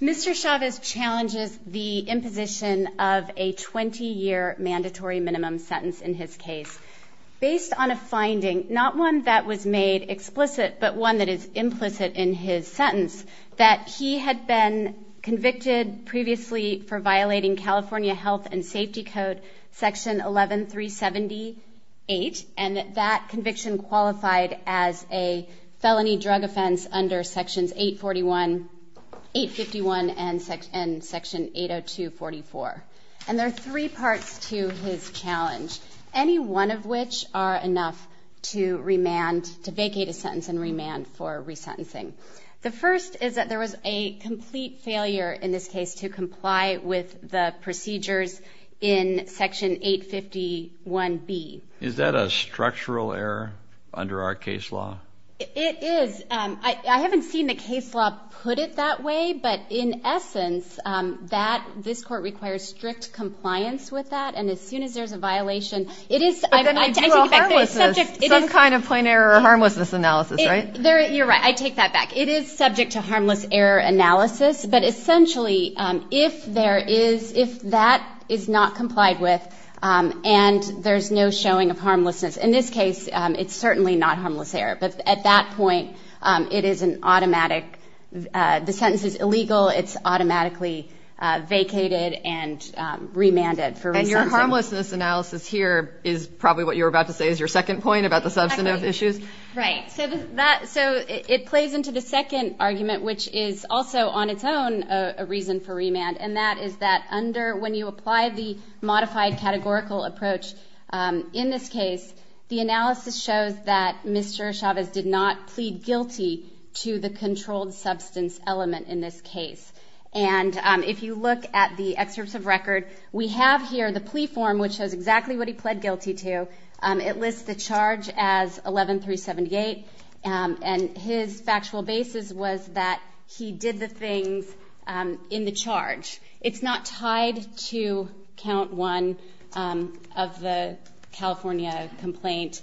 Mr. Chavez challenges the imposition of a 20-year mandatory minimum sentence in his case. Based on a finding, not one that was made explicit, but one that is implicit in his sentence, that he had been convicted previously for violating California Health and Safety Code Section 11378, and that that conviction qualified as a felony drug offense under Sections 851 and Section 802.44. And there are three parts to his challenge. Any one of which are enough to remand, to vacate a sentence and remand for resentencing. The first is that there was a complete failure in this case to comply with the procedures in Section 851B. Is that a structural error under our case law? It is. I haven't seen the case law put it that way, but in essence, that, this Court requires strict compliance with that. And as soon as there's a violation, it is, I mean, I take it back, there's a subject to some kind of plain error or harmlessness analysis, right? You're right. I take that back. It is subject to harmless error analysis, but essentially, if there is, if that is not complied with and there's no showing of harmlessness, in this case, it's certainly not harmless error. But at that point, it is an automatic, the sentence is illegal, it's automatically vacated and remanded for resentencing. And your harmlessness analysis here is probably what you were about to say is your second point about the substantive issues? Right. So that, so it plays into the second argument, which is also on its own a reason for remand, and that is that under, when you apply the modified categorical approach in this case, the analysis shows that Mr. Chavez did not plead guilty to the controlled substance element in this case. And if you look at the excerpts of record, we have here the plea form, which shows exactly what he pled guilty to. It lists the charge as 11-378, and his factual basis was that he did the things in the charge. It's not tied to count one of the California complaint.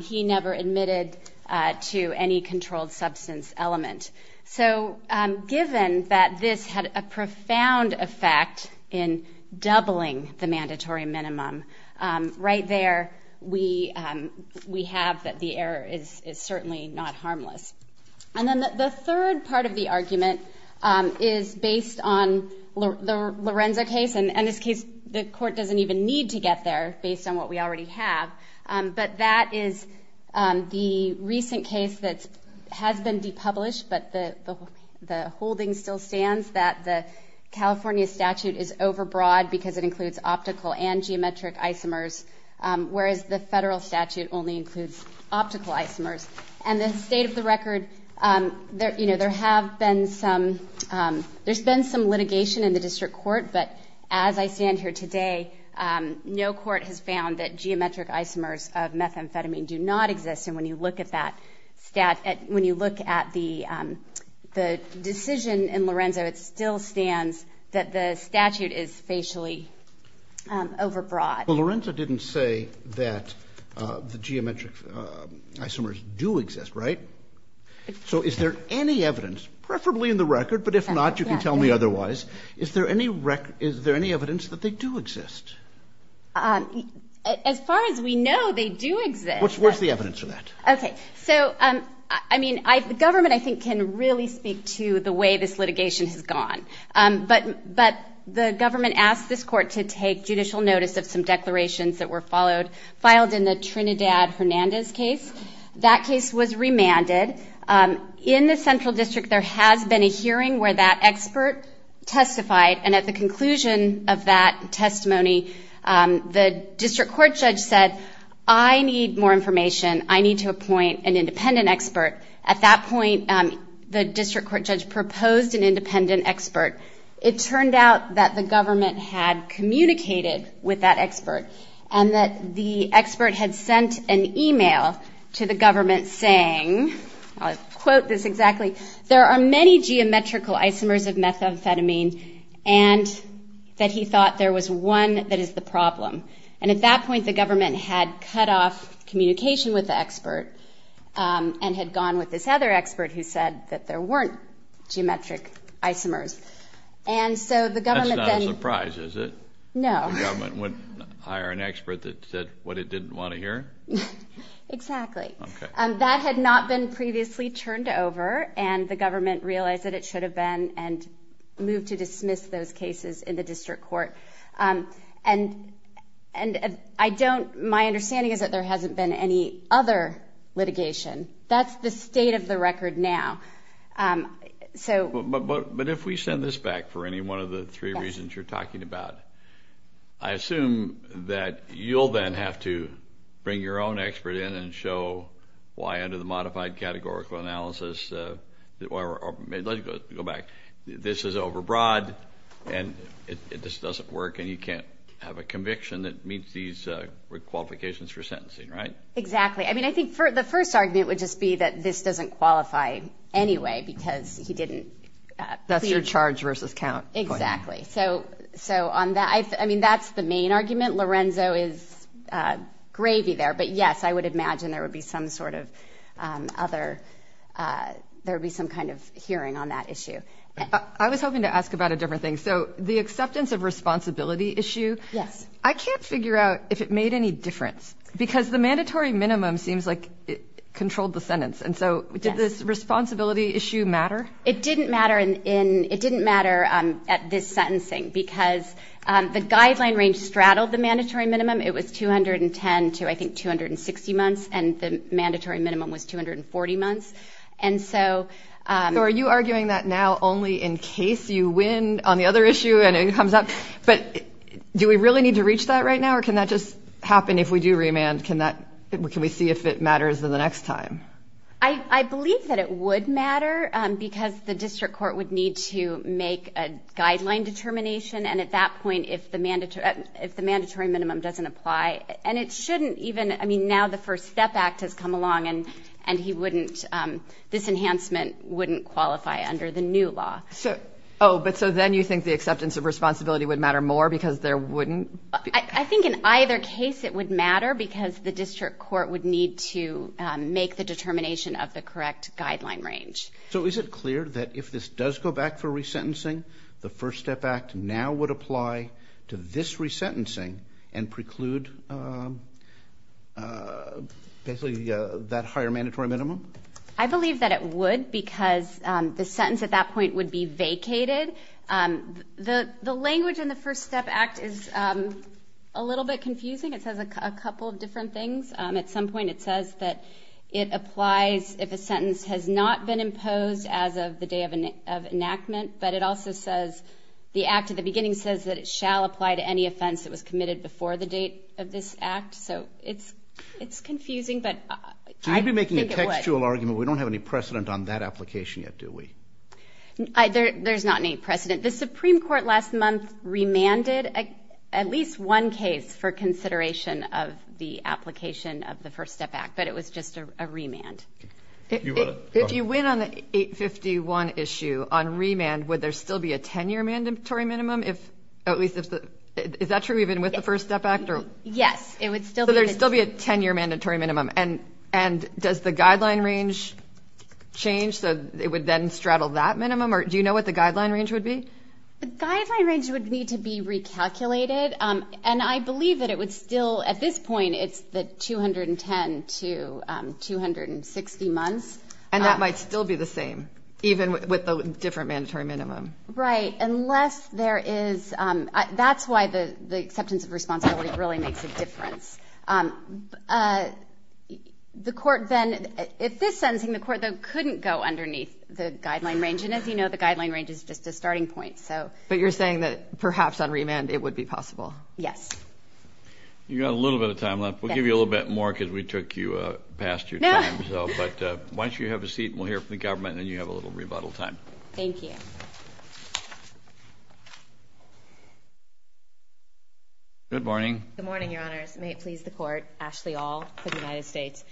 He never admitted to any controlled substance element. So given that this had a profound effect in doubling the mandatory minimum, right there, we have that the error is certainly not harmless. And then the third part of the argument is based on the Lorenzo case, and in this case, the court doesn't even need to get there based on what we already have, but that is the recent case that has been depublished, but the holding still stands that the California statute is overbroad because it includes optical and geometric isomers, whereas the federal statute only includes optical isomers. And the state of the record, you know, there have been some, there's been some litigation in the district court, but as I stand here today, no court has found that geometric isomers of methamphetamine do not exist, and when you look at that, when you look at the decision in Lorenzo, it still stands that the statute is facially overbroad. Well, Lorenzo didn't say that the geometric isomers do exist, right? So is there any evidence, preferably in the record, but if not, you can tell me otherwise, is there any record, is there any evidence that they do exist? As far as we know, they do exist. Where's the evidence for that? Okay, so, I mean, the government, I think, can really speak to the way this litigation has gone, but the government asked this court to take judicial notice of some declarations that were followed, filed in the Trinidad-Hernandez case. That case was remanded. In the central district, there has been a hearing where that expert testified, and at the conclusion of that testimony, the district court judge said, I need more information. I need to appoint an independent expert. At that point, the district court judge proposed an independent expert. It turned out that the government had communicated with that expert, and that the expert had sent an email to the government saying, I'll quote this exactly, there are many geometrical isomers of methamphetamine, and that he thought there was one that is the problem. And at that point, the government had cut off communication with the expert and had gone with this other expert who said that there weren't geometric isomers. And so the government then ---- That's not a surprise, is it? No. The government wouldn't hire an expert that said what it didn't want to hear? Exactly. Okay. That had not been previously turned over, and the government realized that it should have been and moved to dismiss those cases in the district court. And I don't ---- my understanding is that there hasn't been any other litigation. That's the state of the record now. But if we send this back for any one of the three reasons you're talking about, I assume that you'll then have to bring your own expert in and show why under the modified categorical analysis, or let's go back, this is overbroad and this doesn't work and you can't have a conviction that meets these qualifications for sentencing, right? Exactly. I mean, I think the first argument would just be that this doesn't qualify anyway because he didn't ---- That's your charge versus count. Exactly. So on that, I mean, that's the main argument. Lorenzo is gravy there. But, yes, I would imagine there would be some sort of other ---- there would be some kind of hearing on that issue. I was hoping to ask about a different thing. So the acceptance of responsibility issue, I can't figure out if it made any difference because the mandatory minimum seems like it controlled the sentence. And so did this responsibility issue matter? It didn't matter in ---- It didn't matter at this sentencing because the guideline range straddled the mandatory minimum. It was 210 to, I think, 260 months, and the mandatory minimum was 240 months. And so ---- So are you arguing that now only in case you win on the other issue and it comes up? But do we really need to reach that right now, or can that just happen if we do remand? Can we see if it matters the next time? I believe that it would matter because the district court would need to make a guideline determination. And at that point, if the mandatory minimum doesn't apply, and it shouldn't even ---- I mean, now the First Step Act has come along, and he wouldn't ---- this enhancement wouldn't qualify under the new law. Oh, but so then you think the acceptance of responsibility would matter more because there wouldn't be ---- I think in either case it would matter because the district court would need to make the determination of the correct guideline range. So is it clear that if this does go back for resentencing, the First Step Act now would apply to this resentencing and preclude basically that higher mandatory minimum? I believe that it would because the sentence at that point would be vacated. The language in the First Step Act is a little bit confusing. I think it says a couple of different things. At some point it says that it applies if a sentence has not been imposed as of the day of enactment, but it also says the act at the beginning says that it shall apply to any offense that was committed before the date of this act. So it's confusing, but I think it would. So you'd be making a textual argument. We don't have any precedent on that application yet, do we? There's not any precedent. The Supreme Court last month remanded at least one case for consideration of the application of the First Step Act, but it was just a remand. If you win on the 851 issue on remand, would there still be a 10-year mandatory minimum? Is that true even with the First Step Act? Yes, it would still be. So there would still be a 10-year mandatory minimum. And does the guideline range change so it would then straddle that minimum? Or do you know what the guideline range would be? The guideline range would need to be recalculated, and I believe that it would still at this point it's the 210 to 260 months. And that might still be the same even with the different mandatory minimum? Right, unless there is – that's why the acceptance of responsibility really makes a difference. The court then – if this sentencing, the court couldn't go underneath the guideline range, and as you know, the guideline range is just a starting point. But you're saying that perhaps on remand it would be possible? Yes. You've got a little bit of time left. We'll give you a little bit more because we took you past your time. But why don't you have a seat, and we'll hear from the government, and then you have a little rebuttal time. Thank you. Good morning. Good morning, Your Honors. May it please the Court, Ashley Aul, for the United States.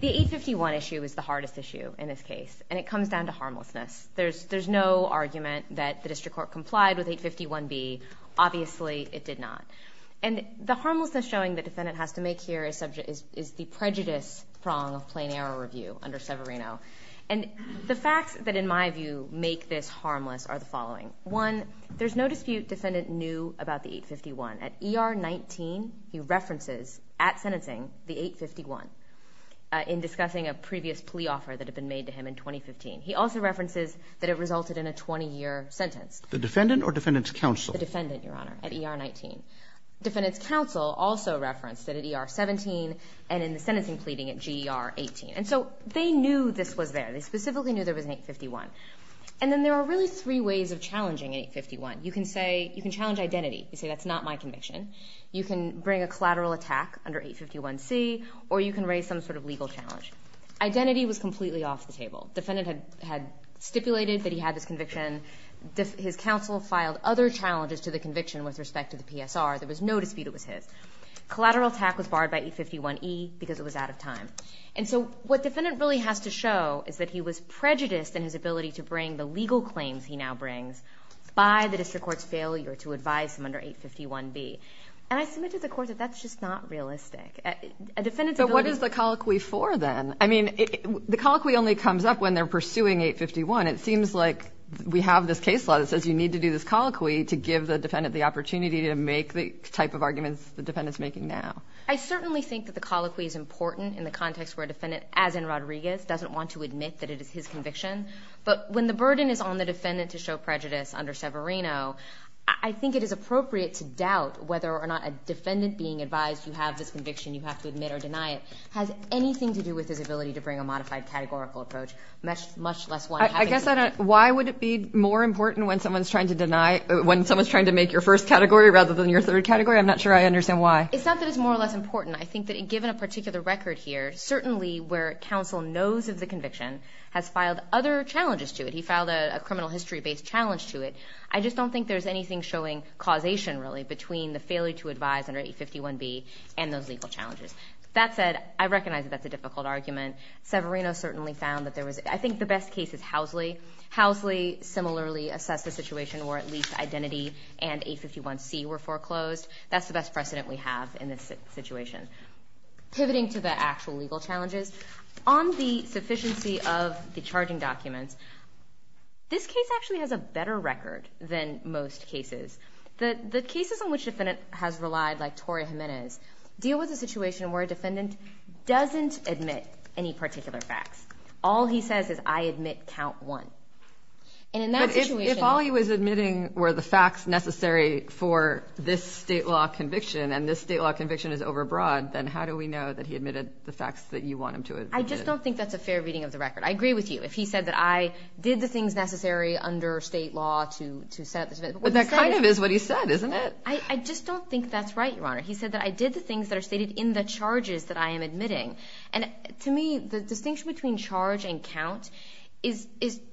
The 851 issue is the hardest issue in this case, and it comes down to harmlessness. There's no argument that the district court complied with 851B. Obviously it did not. And the harmlessness showing the defendant has to make here is the prejudice prong of plain error review under Severino. And the facts that, in my view, make this harmless are the following. One, there's no dispute defendant knew about the 851. At ER 19, he references at sentencing the 851 in discussing a previous plea offer that had been made to him in 2015. He also references that it resulted in a 20-year sentence. The defendant or defendant's counsel? The defendant, Your Honor, at ER 19. Defendant's counsel also referenced that at ER 17 and in the sentencing pleading at GER 18. And so they knew this was there. They specifically knew there was an 851. And then there are really three ways of challenging 851. You can say you can challenge identity. You can say that's not my conviction. You can bring a collateral attack under 851C, or you can raise some sort of legal challenge. Identity was completely off the table. Defendant had stipulated that he had this conviction. His counsel filed other challenges to the conviction with respect to the PSR. There was no dispute it was his. Collateral attack was barred by 851E because it was out of time. And so what defendant really has to show is that he was prejudiced in his ability to bring the legal claims he now brings by the district court's failure to advise him under 851B. And I submit to the court that that's just not realistic. But what is the colloquy for then? I mean, the colloquy only comes up when they're pursuing 851. It seems like we have this case law that says you need to do this colloquy to give the defendant the opportunity to make the type of arguments the defendant's making now. I certainly think that the colloquy is important in the context where a defendant, as in Rodriguez, doesn't want to admit that it is his conviction. But when the burden is on the defendant to show prejudice under Severino, I think it is appropriate to doubt whether or not a defendant being advised you have this conviction, you have to admit or deny it, has anything to do with his ability to bring a modified categorical approach, much less one having to do with it. Why would it be more important when someone's trying to make your first category rather than your third category? I'm not sure I understand why. It's not that it's more or less important. I think that given a particular record here, certainly where counsel knows of the conviction, has filed other challenges to it. He filed a criminal history-based challenge to it. I just don't think there's anything showing causation, really, between the failure to advise under 851B and those legal challenges. That said, I recognize that that's a difficult argument. Severino certainly found that there was – I think the best case is Housley. Housley similarly assessed the situation where at least Identity and 851C were foreclosed. That's the best precedent we have in this situation. Pivoting to the actual legal challenges, on the sufficiency of the charging documents, this case actually has a better record than most cases. The cases in which a defendant has relied, like Toria Jimenez, deal with a situation where a defendant doesn't admit any particular facts. All he says is, I admit count one. But if all he was admitting were the facts necessary for this state law conviction and this state law conviction is overbroad, then how do we know that he admitted the facts that you want him to admit? I just don't think that's a fair reading of the record. I agree with you. If he said that I did the things necessary under state law to set up this event. But that kind of is what he said, isn't it? I just don't think that's right, Your Honor. He said that I did the things that are stated in the charges that I am admitting. And to me, the distinction between charge and count is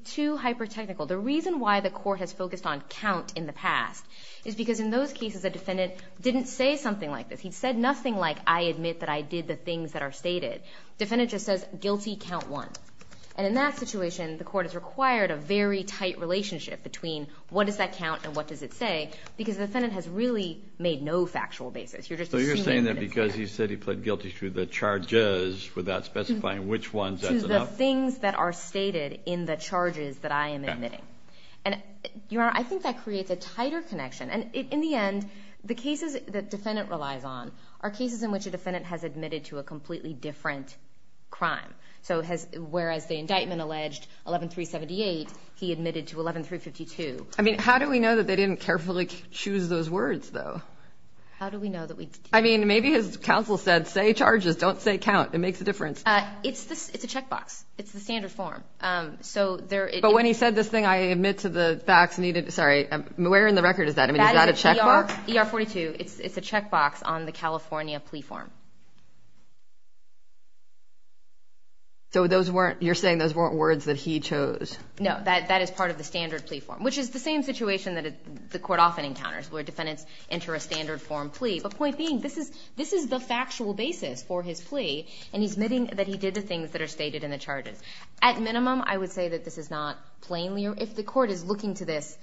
too hyper-technical. The reason why the court has focused on count in the past is because in those cases, a defendant didn't say something like this. He said nothing like, I admit that I did the things that are stated. Defendant just says, guilty count one. And in that situation, the court has required a very tight relationship between what does that count and what does it say because the defendant has really made no factual basis. So you're saying that because he said he pled guilty to the charges without specifying which ones that's enough? To the things that are stated in the charges that I am admitting. And, Your Honor, I think that creates a tighter connection. And in the end, the cases that defendant relies on are cases in which a defendant has admitted to a completely different crime. So whereas the indictment alleged 11-378, he admitted to 11-352. I mean, how do we know that they didn't carefully choose those words, though? How do we know that we didn't? I mean, maybe his counsel said, say charges, don't say count. It makes a difference. It's a checkbox. It's the standard form. But when he said this thing, I admit to the facts needed. Sorry, where in the record is that? Is that a checkbox? That is ER-42. It's a checkbox on the California plea form. So you're saying those weren't words that he chose? No, that is part of the standard plea form, which is the same situation that the court often encounters where defendants enter a standard form plea. But point being, this is the factual basis for his plea, and he's admitting that he did the things that are stated in the charges. At minimum, I would say that this is not plainly, if the court is looking to this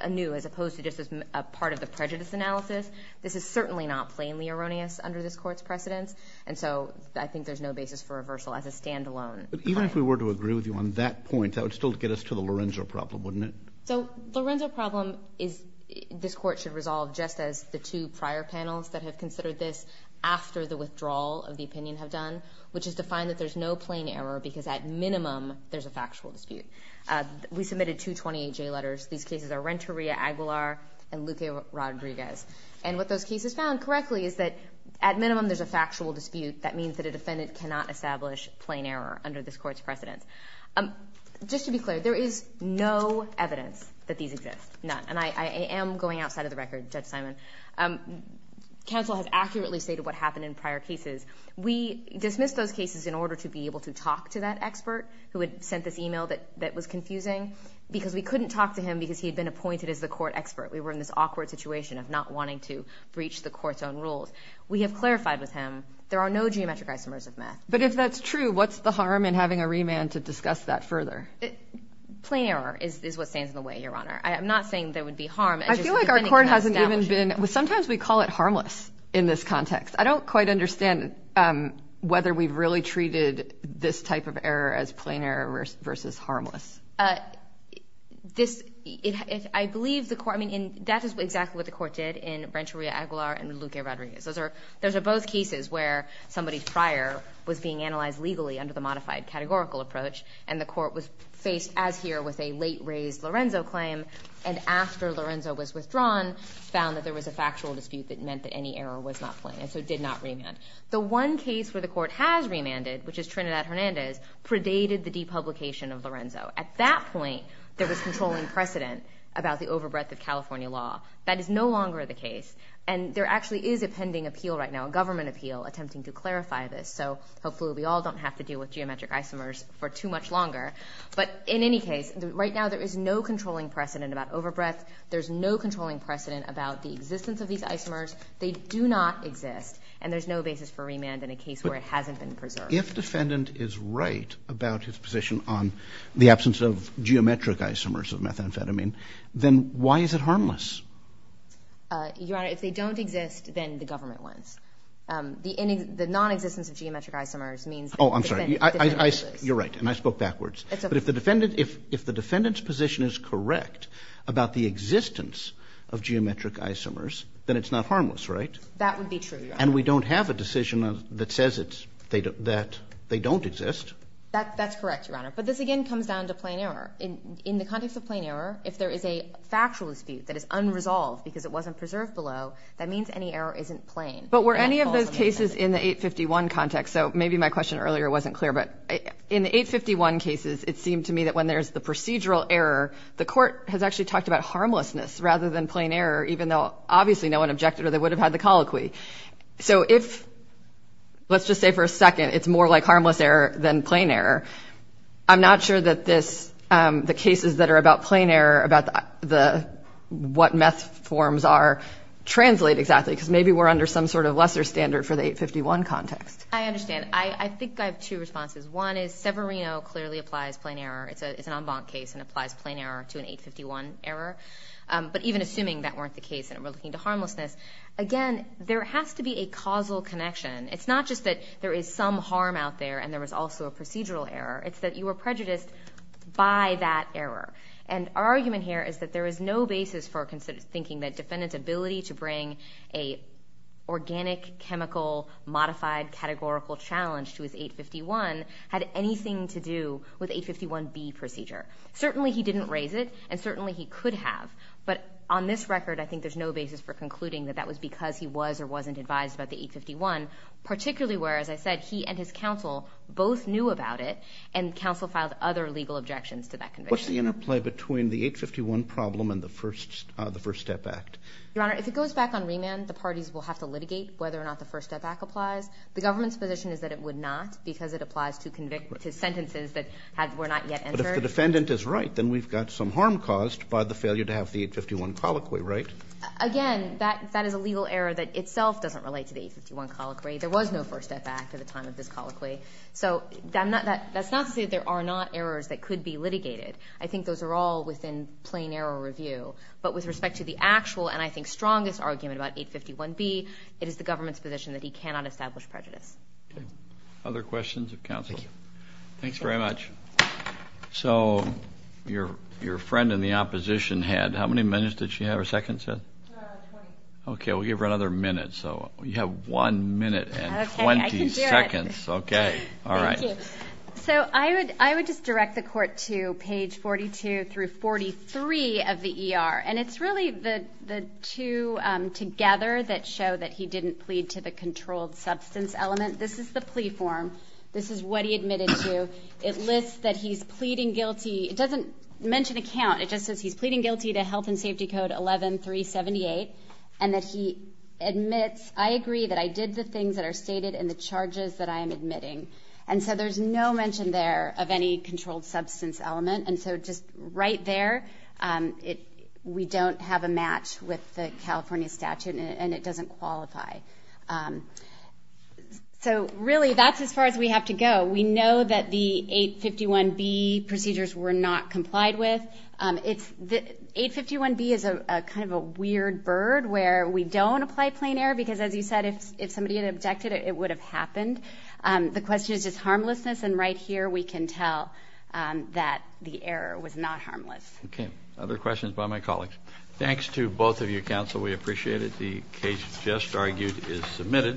anew, as opposed to just as part of the prejudice analysis, this is certainly not plainly erroneous under this court's precedence. And so I think there's no basis for reversal as a standalone claim. But even if we were to agree with you on that point, that would still get us to the Lorenzo problem, wouldn't it? So Lorenzo problem is this court should resolve just as the two prior panels that have considered this after the withdrawal of the opinion have done, which is to find that there's no plain error because at minimum there's a factual dispute. We submitted two 28-J letters. These cases are Renteria-Aguilar and Luque-Rodriguez. And what those cases found correctly is that at minimum there's a factual dispute. That means that a defendant cannot establish plain error under this court's precedence. Just to be clear, there is no evidence that these exist. None. And I am going outside of the record, Judge Simon. Counsel has accurately stated what happened in prior cases. We dismissed those cases in order to be able to talk to that expert who had sent this e-mail that was confusing because we couldn't talk to him because he had been appointed as the court expert. We were in this awkward situation of not wanting to breach the court's own rules. We have clarified with him there are no geometric isomers of math. But if that's true, what's the harm in having a remand to discuss that further? Plain error is what stands in the way, Your Honor. I am not saying there would be harm. I feel like our court hasn't even been— sometimes we call it harmless in this context. I don't quite understand whether we've really treated this type of error as plain error versus harmless. This—I believe the court—I mean, that is exactly what the court did in Brenturia-Aguilar and Luque-Rodriguez. Those are both cases where somebody prior was being analyzed legally under the modified categorical approach, and the court was faced as here with a late-raised Lorenzo claim and after Lorenzo was withdrawn found that there was a factual dispute that meant that any error was not plain. And so it did not remand. The one case where the court has remanded, which is Trinidad-Hernandez, predated the depublication of Lorenzo. At that point, there was controlling precedent about the overbreadth of California law. That is no longer the case. And there actually is a pending appeal right now, a government appeal, attempting to clarify this. So hopefully we all don't have to deal with geometric isomers for too much longer. But in any case, right now there is no controlling precedent about overbreadth. There's no controlling precedent about the existence of these isomers. They do not exist. And there's no basis for remand in a case where it hasn't been preserved. But if defendant is right about his position on the absence of geometric isomers of methamphetamine, then why is it harmless? Your Honor, if they don't exist, then the government wins. The nonexistence of geometric isomers means that the defendant loses. Oh, I'm sorry. You're right, and I spoke backwards. But if the defendant's position is correct about the existence of geometric isomers, then it's not harmless, right? That would be true, Your Honor. And we don't have a decision that says that they don't exist. That's correct, Your Honor. But this again comes down to plain error. In the context of plain error, if there is a factual dispute that is unresolved because it wasn't preserved below, that means any error isn't plain. But were any of those cases in the 851 context, so maybe my question earlier wasn't clear, but in the 851 cases, it seemed to me that when there's the procedural error, the Court has actually talked about harmlessness rather than plain error, even though obviously no one objected or they would have had the colloquy. So if, let's just say for a second, it's more like harmless error than plain error, I'm not sure that the cases that are about plain error, about what meth forms are, translate exactly because maybe we're under some sort of lesser standard for the 851 context. I understand. I think I have two responses. One is Severino clearly applies plain error. It's an en banc case and applies plain error to an 851 error. But even assuming that weren't the case and we're looking to harmlessness, again, there has to be a causal connection. It's not just that there is some harm out there and there was also a procedural error. It's that you were prejudiced by that error. And our argument here is that there is no basis for thinking that defendant's ability to bring an organic, chemical, modified, categorical challenge to his 851 had anything to do with 851B procedure. Certainly he didn't raise it and certainly he could have. But on this record, I think there's no basis for concluding that that was because he was or wasn't advised about the 851, particularly where, as I said, he and his counsel both knew about it and counsel filed other legal objections to that conviction. What's the interplay between the 851 problem and the First Step Act? Your Honor, if it goes back on remand, the parties will have to litigate whether or not the First Step Act applies. The government's position is that it would not because it applies to sentences that were not yet entered. But if the defendant is right, then we've got some harm caused by the failure to have the 851 colloquy, right? Again, that is a legal error that itself doesn't relate to the 851 colloquy. There was no First Step Act at the time of this colloquy. So that's not to say there are not errors that could be litigated. I think those are all within plain error review. But with respect to the actual and I think strongest argument about 851B, it is the government's position that he cannot establish prejudice. Other questions of counsel? Thank you. Thanks very much. So your friend in the opposition had how many minutes did she have or seconds? Twenty. Okay. We'll give her another minute. So you have one minute and 20 seconds. Okay. I can do it. Okay. All right. Thank you. So I would just direct the Court to page 42 through 43 of the ER, and it's really the two together that show that he didn't plead to the controlled substance element. This is the plea form. This is what he admitted to. It lists that he's pleading guilty. It doesn't mention a count. It just says he's pleading guilty to Health and Safety Code 11-378, and that he admits, I agree that I did the things that are stated in the charges that I am admitting. And so there's no mention there of any controlled substance element. And so just right there, we don't have a match with the California statute, and it doesn't qualify. So, really, that's as far as we have to go. We know that the 851B procedures were not complied with. 851B is kind of a weird bird where we don't apply plain error because, as you said, if somebody had objected, it would have happened. The question is just harmlessness, and right here we can tell that the error was not harmless. Okay. Other questions by my colleagues? Thanks to both of you, Counsel. We appreciate it. The case just argued is submitted.